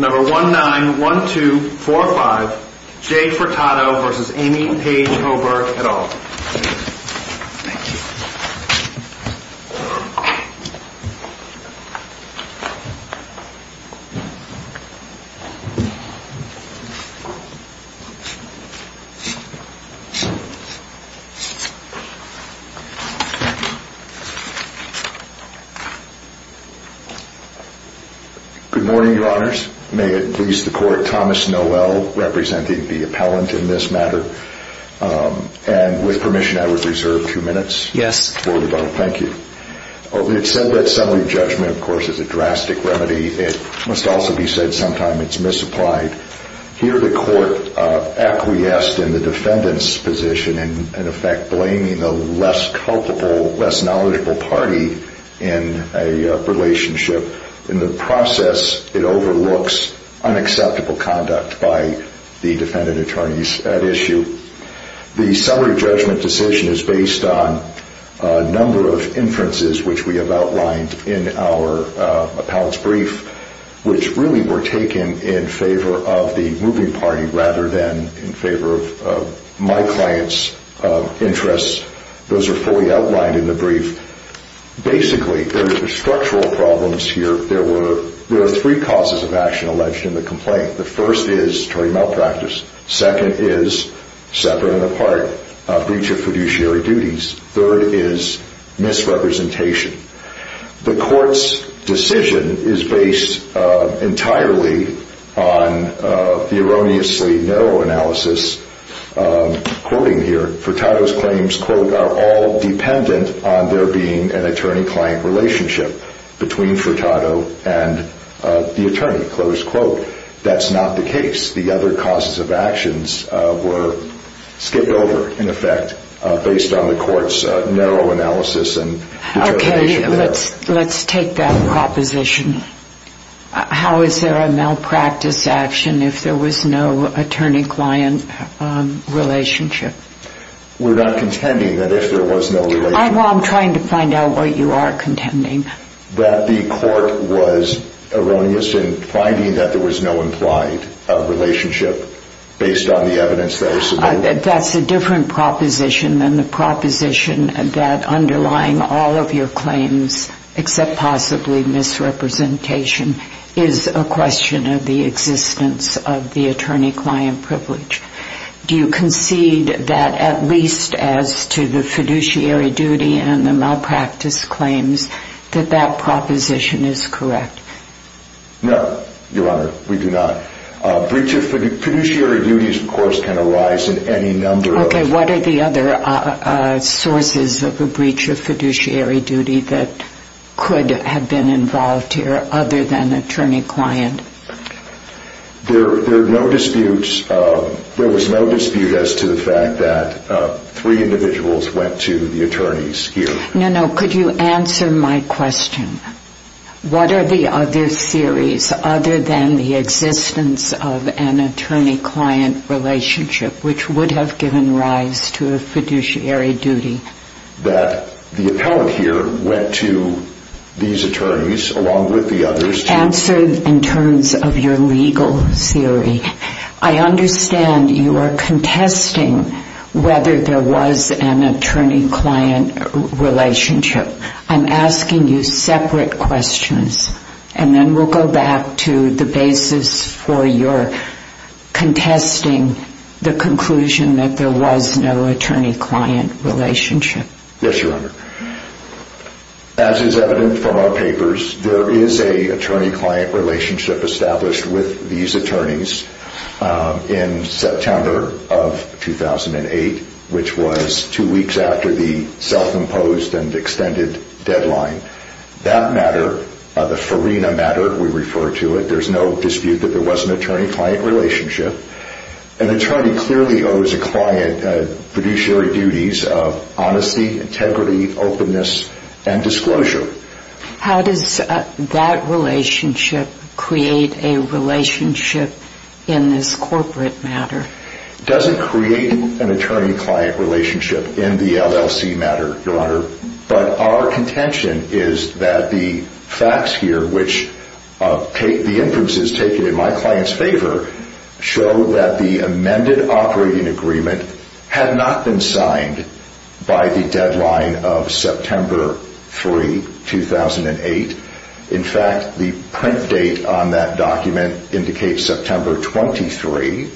191245 J. Furtado v. Amy and Paige Oberg et al. Good morning, your honors. May it please the court, Thomas Noel, representing the appellant in this matter. And with permission, I would reserve two minutes for rebuttal. Thank you. The assembly judgment, of course, is a drastic remedy. It must also be said sometime it's misapplied. Here the court acquiesced in the defendant's position in effect blaming the less culpable, less knowledgeable party in a relationship. In the process, it overlooks unacceptable conduct by the defendant attorneys at issue. The summary judgment decision is based on a number of inferences which we have outlined in our appellant's brief, which really were taken in favor of the moving party rather than in favor of my client's interests. Those are fully outlined in the brief. Basically, there are structural problems here. There are three causes of action alleged in the complaint. The first is attorney malpractice. Second is separate and apart breach of fiduciary duties. Third is misrepresentation. The court's decision is based entirely on the erroneously narrow analysis. Quoting here, Furtado's claims are all dependent on there being an attorney-client relationship between Furtado and the attorney. That's not the case. The other causes of actions were skipped over in effect based on the court's narrow analysis. Okay. Let's take that proposition. How is there a malpractice action if there was no attorney-client relationship? We're not contending that if there was no relationship. I'm trying to find out what you are contending. That the court was erroneous in finding that there was no implied relationship based on the evidence that was submitted. That's a different proposition than the proposition that underlying all of your claims except possibly misrepresentation is a question of the existence of the attorney-client privilege. Do you concede that at least as to the fiduciary duty and the malpractice claims that that proposition is correct? No, Your Honor. We do not. Breach of fiduciary duties, of course, can arise in any number of... Okay. What are the other sources of a breach of fiduciary duty that could have been involved here other than attorney-client? There are no disputes. There was no dispute as to the fact that three individuals went to the attorneys here. No, no. Could you answer my question? What are the other theories other than the existence of an attorney-client relationship which would have given rise to a fiduciary duty? That the appellant here went to these attorneys along with the others to... Answer in terms of your legal theory. I understand you are contesting whether there was an attorney-client relationship. I'm asking you separate questions, and then we'll go back to the basis for your contesting the conclusion that there was no attorney-client relationship. Yes, Your Honor. As is evident from our papers, there is a attorney-client relationship established with these attorneys in September of 2008, which was two weeks after the self-imposed and extended deadline. That matter, the Farina matter, we refer to it. There's no dispute that there was an attorney-client relationship. An attorney clearly owes a client fiduciary duties of honesty, integrity, openness, and disclosure. How does that relationship create a relationship in this corporate matter? It doesn't create an attorney-client relationship in the LLC matter, Your Honor. But our contention is that the facts here, which the inferences taken in my client's favor, show that the agreement was signed by the deadline of September 3, 2008. In fact, the print date on that document indicates September 23,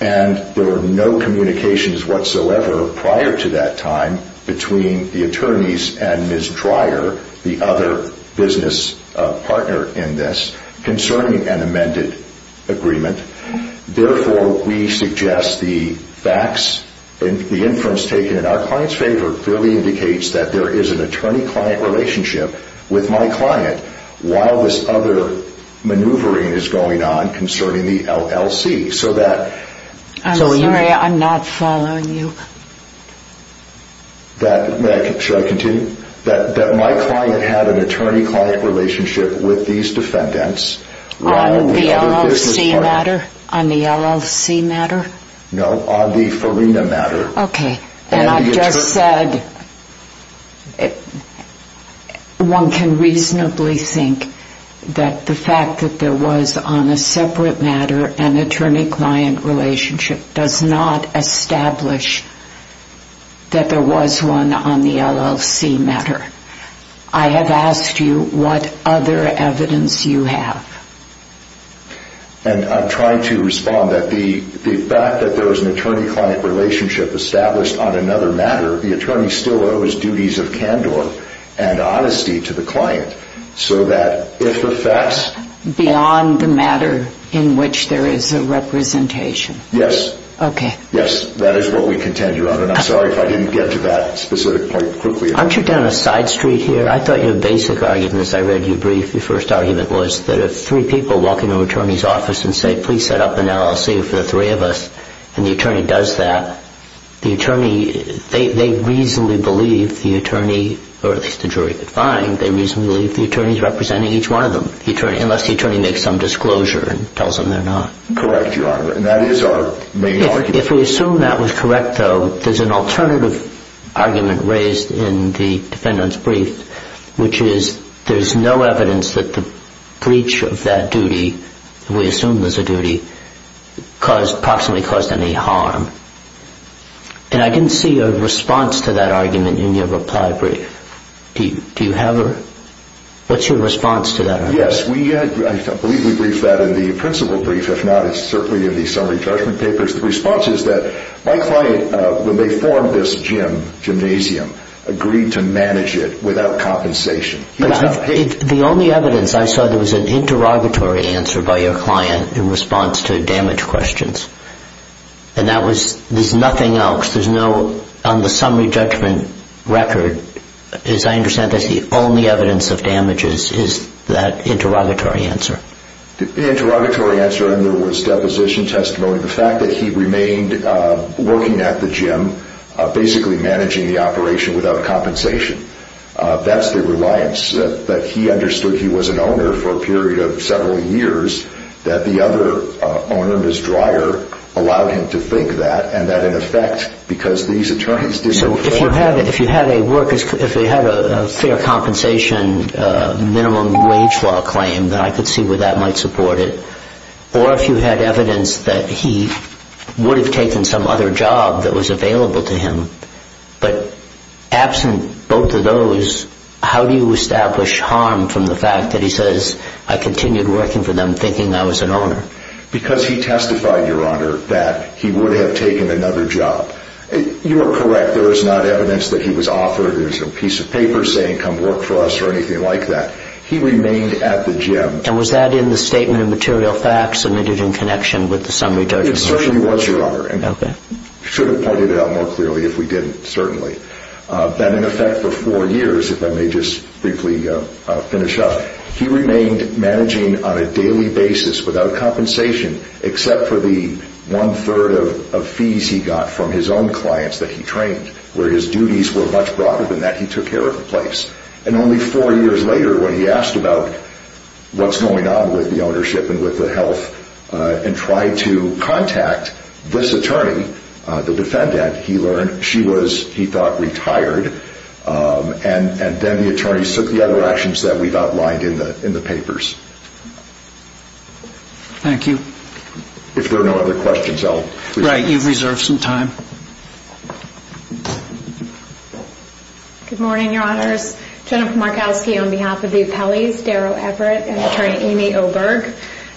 and there were no communications whatsoever prior to that time between the attorneys and Ms. Dreyer, the other business partner in this, concerning an amended agreement. Therefore, we suggest the facts and the inference taken in our client's favor clearly indicates that there is an attorney-client relationship with my client, while this other maneuvering is going on concerning the LLC. I'm sorry, I'm not following you. Should I continue? That my client had an attorney-client relationship with these defendants, rather than the other business partner? On the LLC matter? No, on the Farina matter. Okay. And I just said, one can reasonably think that the fact that there was on a separate matter an attorney-client relationship does not establish that there was one on the LLC matter. I have asked you what other evidence you have. And I'm trying to respond that the fact that there was an attorney-client relationship established on another matter, the attorney still owes duties of candor and honesty to the client, so that if the facts... Beyond the matter in which there is a representation? Yes. Okay. Yes, that is what we contend you on, and I'm sorry if I didn't get to that specific point Aren't you down a side street here? I thought your basic argument, as I read your brief, your first argument was that if three people walk into an attorney's office and say, please set up an LLC for the three of us, and the attorney does that, the attorney, they reasonably believe the attorney, or at least the jury could find, they reasonably believe the attorney is representing each one of them, unless the attorney makes some disclosure and tells them they're not. Correct, Your Honor, and that is our main argument. If we assume that was correct, though, there's an alternative argument raised in the defendant's brief, which is there's no evidence that the breach of that duty, we assume was a duty, caused, approximately caused any harm. And I didn't see a response to that argument in your reply brief. Do you have a... What's your response to that argument? Yes, I believe we briefed that in the principal brief, if not, it's certainly in the summary judgment papers. The response is that my client, when they formed this gym, gymnasium, agreed to manage it without compensation. The only evidence I saw there was an interrogatory answer by your client in response to damage questions, and that was, there's nothing else, there's no, on the summary judgment record, as I understand, that's the only evidence of damages is that interrogatory answer. The interrogatory answer, and there was deposition testimony, the fact that he remained working at the gym, basically managing the operation without compensation, that's the reliance, that he understood he was an owner for a period of several years, that the other owner, Ms. Dreyer, allowed him to think that, and that in effect, because these attorneys did no fair... I could see where that might support it, or if you had evidence that he would have taken some other job that was available to him, but absent both of those, how do you establish harm from the fact that he says, I continued working for them thinking I was an owner? Because he testified, Your Honor, that he would have taken another job. You are correct, there is not evidence that he was offered a piece of paper saying, come work for us, or anything like that. He remained at the gym. And was that in the statement of material facts submitted in connection with the summary judgment? It certainly was, Your Honor, and I should have pointed it out more clearly if we didn't, certainly. That in effect, for four years, if I may just briefly finish up, he remained managing on a daily basis without compensation, except for the one-third of fees he got from his own clients that he trained, where his duties were much broader than that he took care of place. And only four years later, when he asked about what's going on with the ownership and with the health, and tried to contact this attorney, the defendant, he learned she was, he thought, retired, and then the attorney took the other actions that we've outlined in the papers. Thank you. If there are no other questions, I'll... Right, you've reserved some time. Good morning, Your Honors. Jennifer Markowski on behalf of the appellees, Daryl Everett and Attorney Amy Oberg.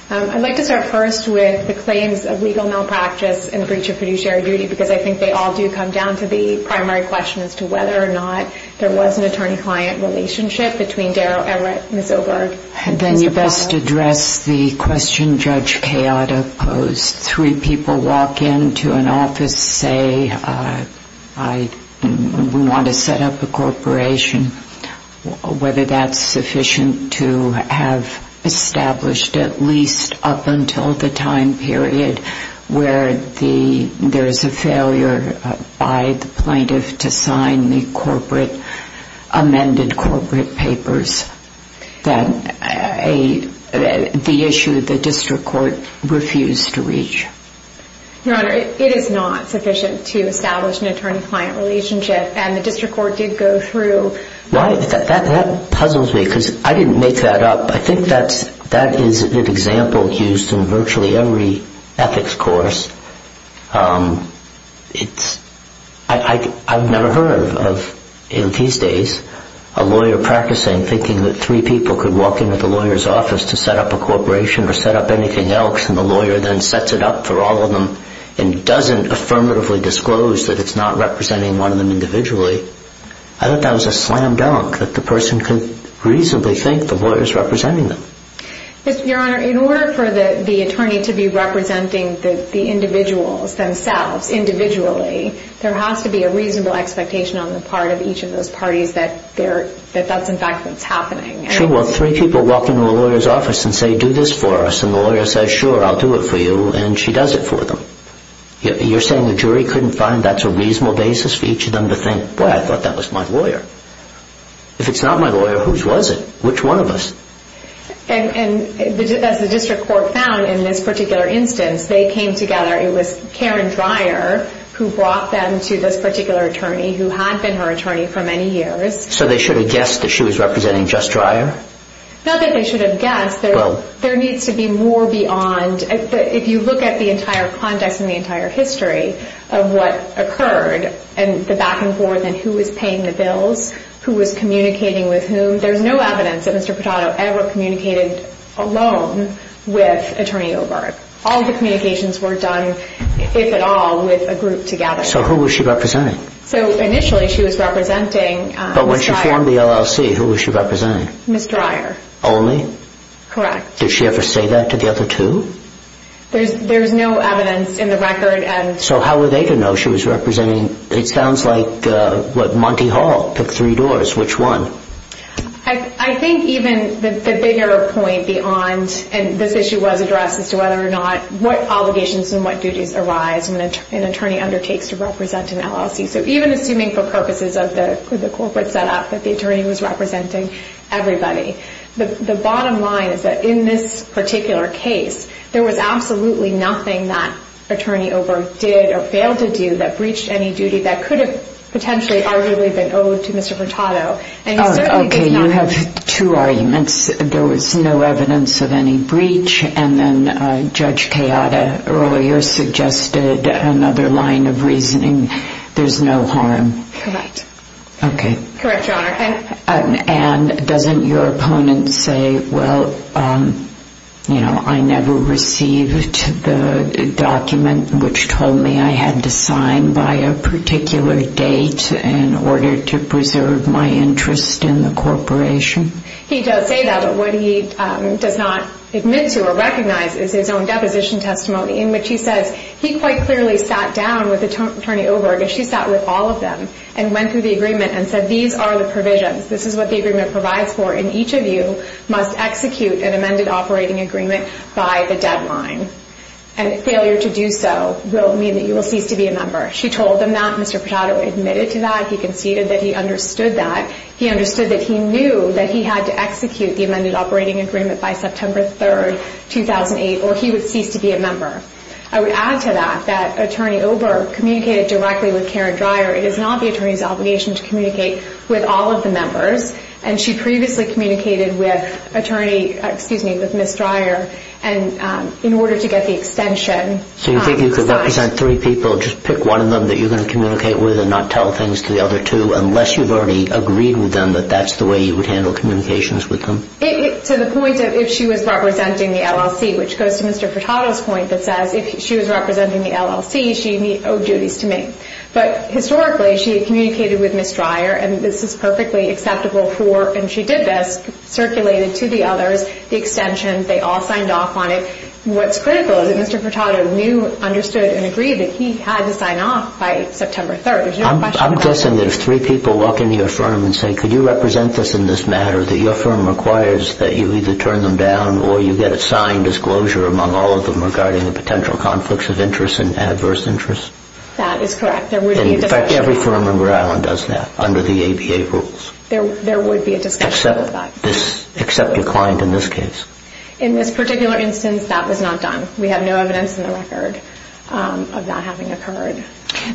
I'd like to start first with the claims of legal malpractice and breach of fiduciary duty, because I think they all do come down to the primary question as to whether or not there was an attorney-client relationship between Daryl Everett, Ms. Oberg, and Mr. Pollard. And then you best address the question Judge Kayotta posed. Three people walk into an office, say, we want to set up a corporation, whether that's sufficient to have established, at least up until the time period where there's a failure by the plaintiff to sign the corporate, amended corporate papers. Then the issue the district court refused to reach. Your Honor, it is not sufficient to establish an attorney-client relationship, and the district court did go through... That puzzles me, because I didn't make that up. I think that is an example used in virtually every ethics course. I've never heard of, in these days, a lawyer practicing, thinking that three people could walk into the lawyer's office to set up a corporation or set up anything else, and the lawyer then sets it up for all of them and doesn't affirmatively disclose that it's not representing one of them individually. I thought that was a slam dunk, that the person could reasonably think the lawyer's representing them. Your Honor, in order for the attorney to be representing the individual, the individual themselves, individually, there has to be a reasonable expectation on the part of each of those parties that that's, in fact, what's happening. Sure, well, three people walk into a lawyer's office and say, do this for us, and the lawyer says, sure, I'll do it for you, and she does it for them. You're saying the jury couldn't find that's a reasonable basis for each of them to think, boy, I thought that was my lawyer. If it's not my lawyer, whose was it? Which one of us? And as the district court found in this particular instance, they came together. It was Karen Dreyer who brought them to this particular attorney who had been her attorney for many years. So they should have guessed that she was representing just Dreyer? Not that they should have guessed. There needs to be more beyond, if you look at the entire context and the entire history of what occurred and the back and forth and who was paying the bills, who was communicating with whom, there's no evidence that Mr. Portado ever communicated alone with Attorney Oberg. All of the communications were done, if at all, with a group together. So who was she representing? So, initially, she was representing Ms. Dreyer. But when she formed the LLC, who was she representing? Ms. Dreyer. Only? Correct. Did she ever say that to the other two? There's no evidence in the record. So how were they to know she was representing, it sounds like, what, Monty Hall took three doors. Which one? I think even the bigger point beyond, and this issue was addressed as to whether or not, what obligations and what duties arise when an attorney undertakes to represent an LLC. So even assuming for purposes of the corporate setup that the attorney was representing everybody. The bottom line is that in this particular case, there was absolutely nothing that Attorney Oberg did or failed to do that breached any duty that could have potentially arguably been owed to Mr. Vurtado. Okay, you have two arguments. There was no evidence of any breach, and then Judge Kayada earlier suggested another line of reasoning. There's no harm. Correct. Okay. Correct, Your Honor. And doesn't your opponent say, well, I never received the document which told me I had to sign by a particular date in order to preserve my interest in the corporation? He does say that, but what he does not admit to or recognize is his own deposition testimony in which he says he quite clearly sat down with Attorney Oberg, as she sat with all of them, and went through the agreement and said, these are the provisions. This is what the agreement provides for, and each of you must execute an amended operating agreement by the deadline. And failure to do so will mean that you will cease to be a member. She told them that. Mr. Vurtado admitted to that. He conceded that he understood that. He understood that he knew that he had to execute the amended operating agreement by September 3rd, 2008, or he would cease to be a member. I would add to that that Attorney Oberg communicated directly with Karen Dreyer. It is not the attorney's obligation to communicate with all of the members, and she previously communicated with Attorney, excuse me, with Ms. Dreyer, and in order to get the extension... So you think you could represent three people, just pick one of them that you're going to communicate with and not tell things to the other two, unless you've already agreed with them that that's the way you would handle communications with them? To the point of if she was representing the LLC, which goes to Mr. Vurtado's point that says if she was representing the LLC, she owed duties to me. But historically, she had communicated with Ms. Dreyer, and this is perfectly acceptable for, and she did this, circulated to the others, the extension, they all signed off on it. What's critical is that Mr. Vurtado knew, understood, and agreed that he had to sign off by September 3rd. I'm guessing that if three people walk into your firm and say, could you represent this in this matter, that your firm requires that you either turn them down or you get a signed disclosure among all of them regarding the potential conflicts of interest and adverse interest? That is correct. In fact, every firm in Rhode Island does that under the ABA rules. There would be a discussion about that. Except your client in this case. In this particular instance, that was not done. We have no evidence in the record of that having occurred.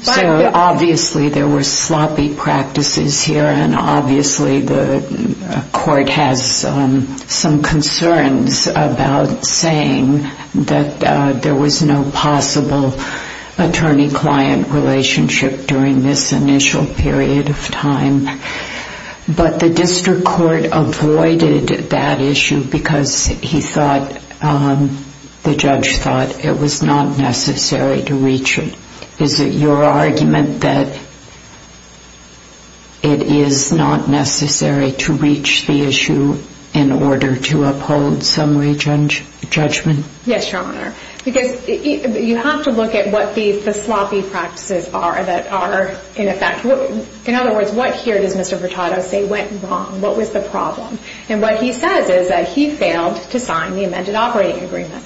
So obviously there were sloppy practices here, and obviously the court has some concerns about saying that there was no possible attorney-client relationship during this initial period of time. But the district court avoided that issue because the judge thought it was not necessary to reach it. Is it your argument that it is not necessary to reach the issue in order to uphold summary judgment? Yes, Your Honor. Because you have to look at what the sloppy practices are that are in effect. In other words, what here does Mr. Vurtado say went wrong? What was the problem? And what he says is that he failed to sign the amended operating agreement.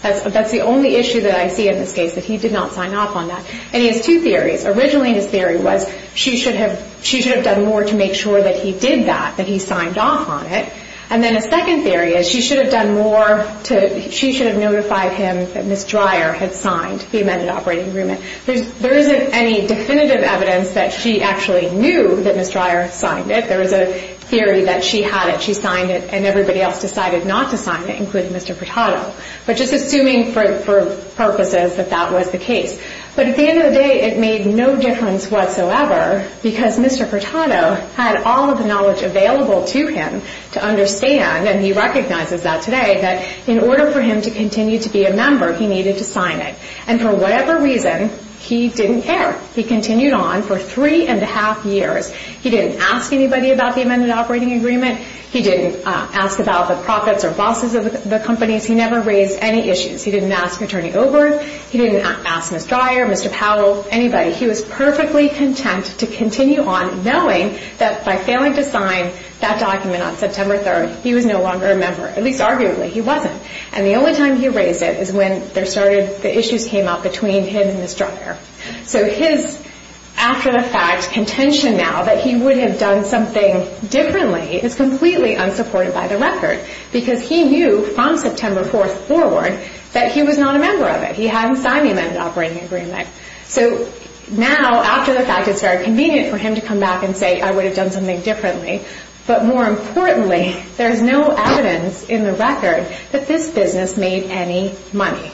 That's the only issue that I see in this case, that he did not sign off on that. And he has two theories. Originally his theory was she should have done more to make sure that he did that, that he signed off on it. And then his second theory is she should have notified him that Ms. Dreyer had signed the amended operating agreement. There isn't any definitive evidence that she actually knew that Ms. Dreyer signed it. There was a theory that she had it. She signed it and everybody else decided not to sign it, including Mr. Vurtado. But just assuming for purposes that that was the case. But at the end of the day, it made no difference whatsoever because Mr. Vurtado had all of the knowledge available to him to understand, and he recognizes that today, that in order for him to continue to be a member, he needed to sign it. And for whatever reason, he didn't care. He continued on for three and a half years. He didn't ask anybody about the amended operating agreement. He didn't ask about the profits or losses of the companies. He never raised any issues. He didn't ask Attorney Obert. He didn't ask Ms. Dreyer, Mr. Powell, anybody. He was perfectly content to continue on knowing that by failing to sign that document on September 3rd, he was no longer a member. At least arguably, he wasn't. And the only time he raised it is when the issues came up between him and Ms. Dreyer. So his, after the fact, contention now that he would have done something differently is completely unsupported by the record because he knew from September 4th forward that he was not a member of it. He hadn't signed the amended operating agreement. So now, after the fact, it's very convenient for him to come back and say, I would have done something differently. But more importantly, there's no evidence in the record that this business made any money.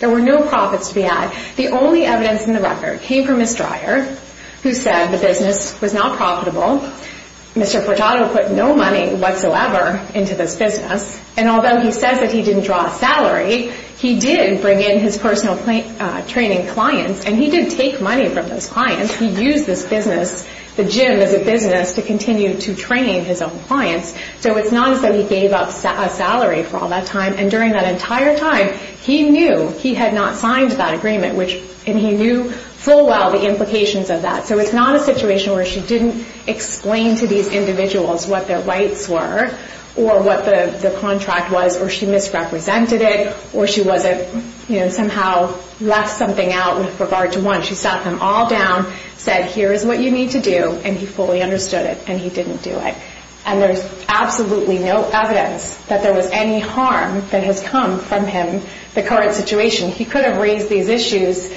There were no profits to be had. The only evidence in the record came from Ms. Dreyer, who said the business was not profitable. Mr. Portado put no money whatsoever into this business. And although he says that he didn't draw a salary, he did bring in his personal training clients, and he did take money from those clients. He used this business, the gym as a business, to continue to train his own clients. So it's not as though he gave up a salary for all that time. And during that entire time, he knew he had not signed that agreement, and he knew full well the implications of that. So it's not a situation where she didn't explain to these individuals what their rights were, or what the contract was, or she misrepresented it, or she wasn't, you know, somehow left something out with regard to one. She sat them all down, said, here is what you need to do, and he fully understood it, and he didn't do it. And there's absolutely no evidence that there was any harm that has come from him, the current situation. He could have raised these issues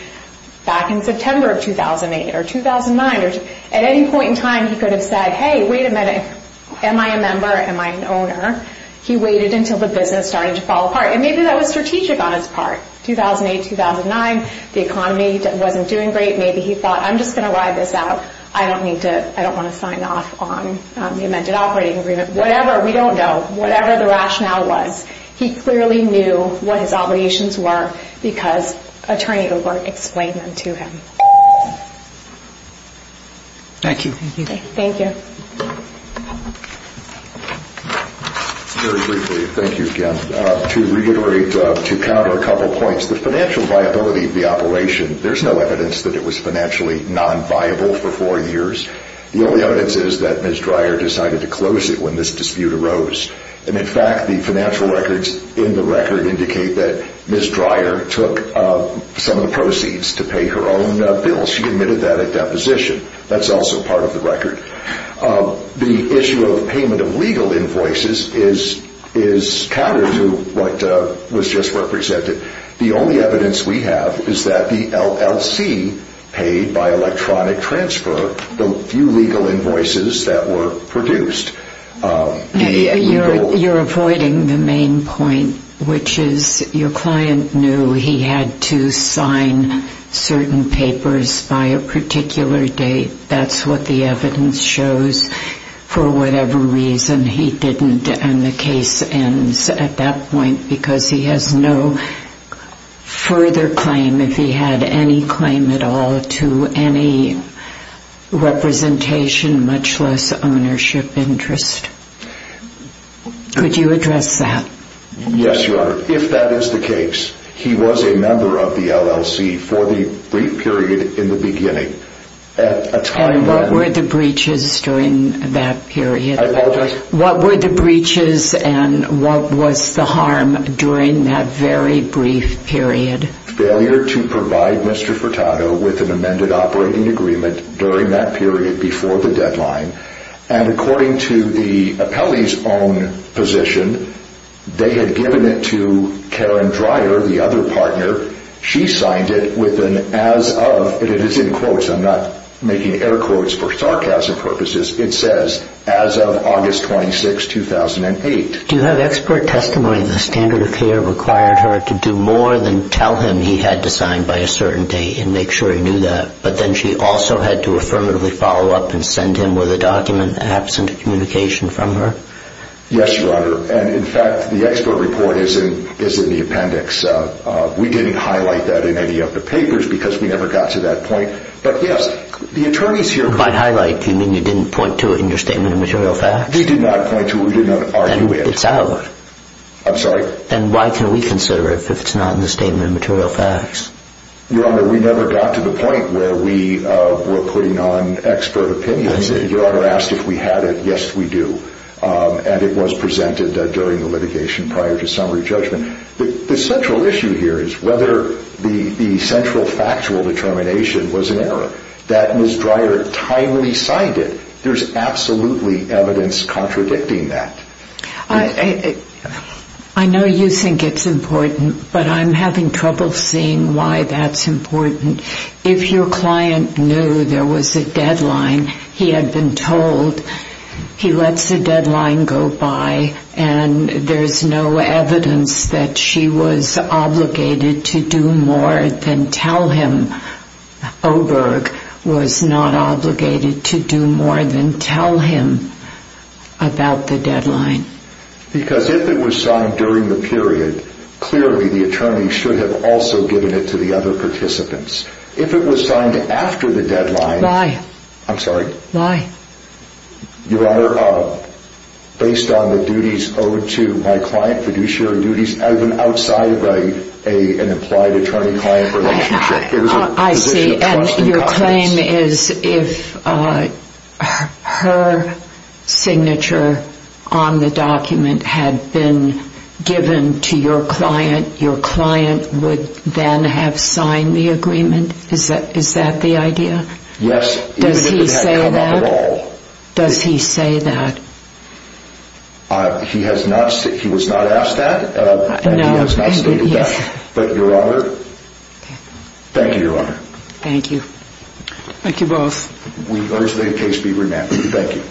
back in September of 2008 or 2009. At any point in time, he could have said, hey, wait a minute, am I a member, am I an owner? He waited until the business started to fall apart. And maybe that was strategic on his part. 2008, 2009, the economy wasn't doing great. Maybe he thought, I'm just going to ride this out. I don't need to, I don't want to sign off on the amended operating agreement. Whatever, we don't know. Whatever the rationale was, he clearly knew what his obligations were because Attorney Obert explained them to him. Thank you. Thank you. Very briefly, thank you again. To reiterate, to counter a couple points, the financial viability of the operation, there's no evidence that it was financially non-viable for four years. The only evidence is that Ms. Dreyer decided to close it when this dispute arose. And in fact, the financial records in the record indicate that Ms. Dreyer took some of the proceeds to pay her own bills. She admitted that at deposition. That's also part of the record. The issue of payment of legal invoices is counter to what was just represented. The only evidence we have is that the LLC paid by electronic transfer the few legal invoices that were produced. You're avoiding the main point, which is your client knew he had to sign certain papers by a particular date. That's what the evidence shows. For whatever reason, he didn't. And the case ends at that point because he has no further claim, if he had any claim at all to any representation, much less ownership interest. Could you address that? Yes, Your Honor. If that is the case, he was a member of the LLC for the brief period in the beginning. And what were the breaches during that period? I apologize? What were the breaches and what was the harm during that very brief period? Failure to provide Mr. Furtado with an amended operating agreement during that period before the deadline. And according to the appellee's own position, they had given it to Karen Dreyer, the other partner. She signed it with an as of. It is in quotes. I'm not making air quotes for sarcasm purposes. It says, as of August 26, 2008. Do you have expert testimony that the standard of care required her to do more than tell him he had to sign by a certain date and make sure he knew that? But then she also had to affirmatively follow up and send him with a document absent communication from her? Yes, Your Honor. And in fact, the expert report is in the appendix. We didn't highlight that in any of the papers because we never got to that point. But yes, the attorneys here... By highlight, you mean you didn't point to it in your Statement of Material Facts? We did not point to it. We did not argue it. Then it's out. I'm sorry? Then why can we consider it if it's not in the Statement of Material Facts? Your Honor, we never got to the point where we were putting on expert opinion. Your Honor asked if we had it. Yes, we do. And it was presented during the litigation prior to summary judgment. The central issue here is whether the central factual determination was an error. That Ms. Dreyer timely signed it. There's absolutely evidence contradicting that. I know you think it's important, but I'm having trouble seeing why that's important. If your client knew there was a deadline, he had been told, he lets the deadline go by, and there's no evidence that she was obligated to do more than tell him. Oberg was not obligated to do more than tell him about the deadline. Because if it was signed during the period, clearly the attorney should have also given it to the other participants. If it was signed after the deadline... Why? I'm sorry? Why? Your Honor, based on the duties owed to my client, fiduciary duties, I've been outside of an implied attorney-client relationship. I see. It was a position of trust and confidence. And your claim is if her signature on the document had been given to your client, your client would then have signed the agreement? Is that the idea? Yes. Does he say that? Does he say that? He was not asked that, and he has not stated that. But your Honor, thank you, your Honor. Thank you. Thank you both. We urge the case be remanded. Thank you.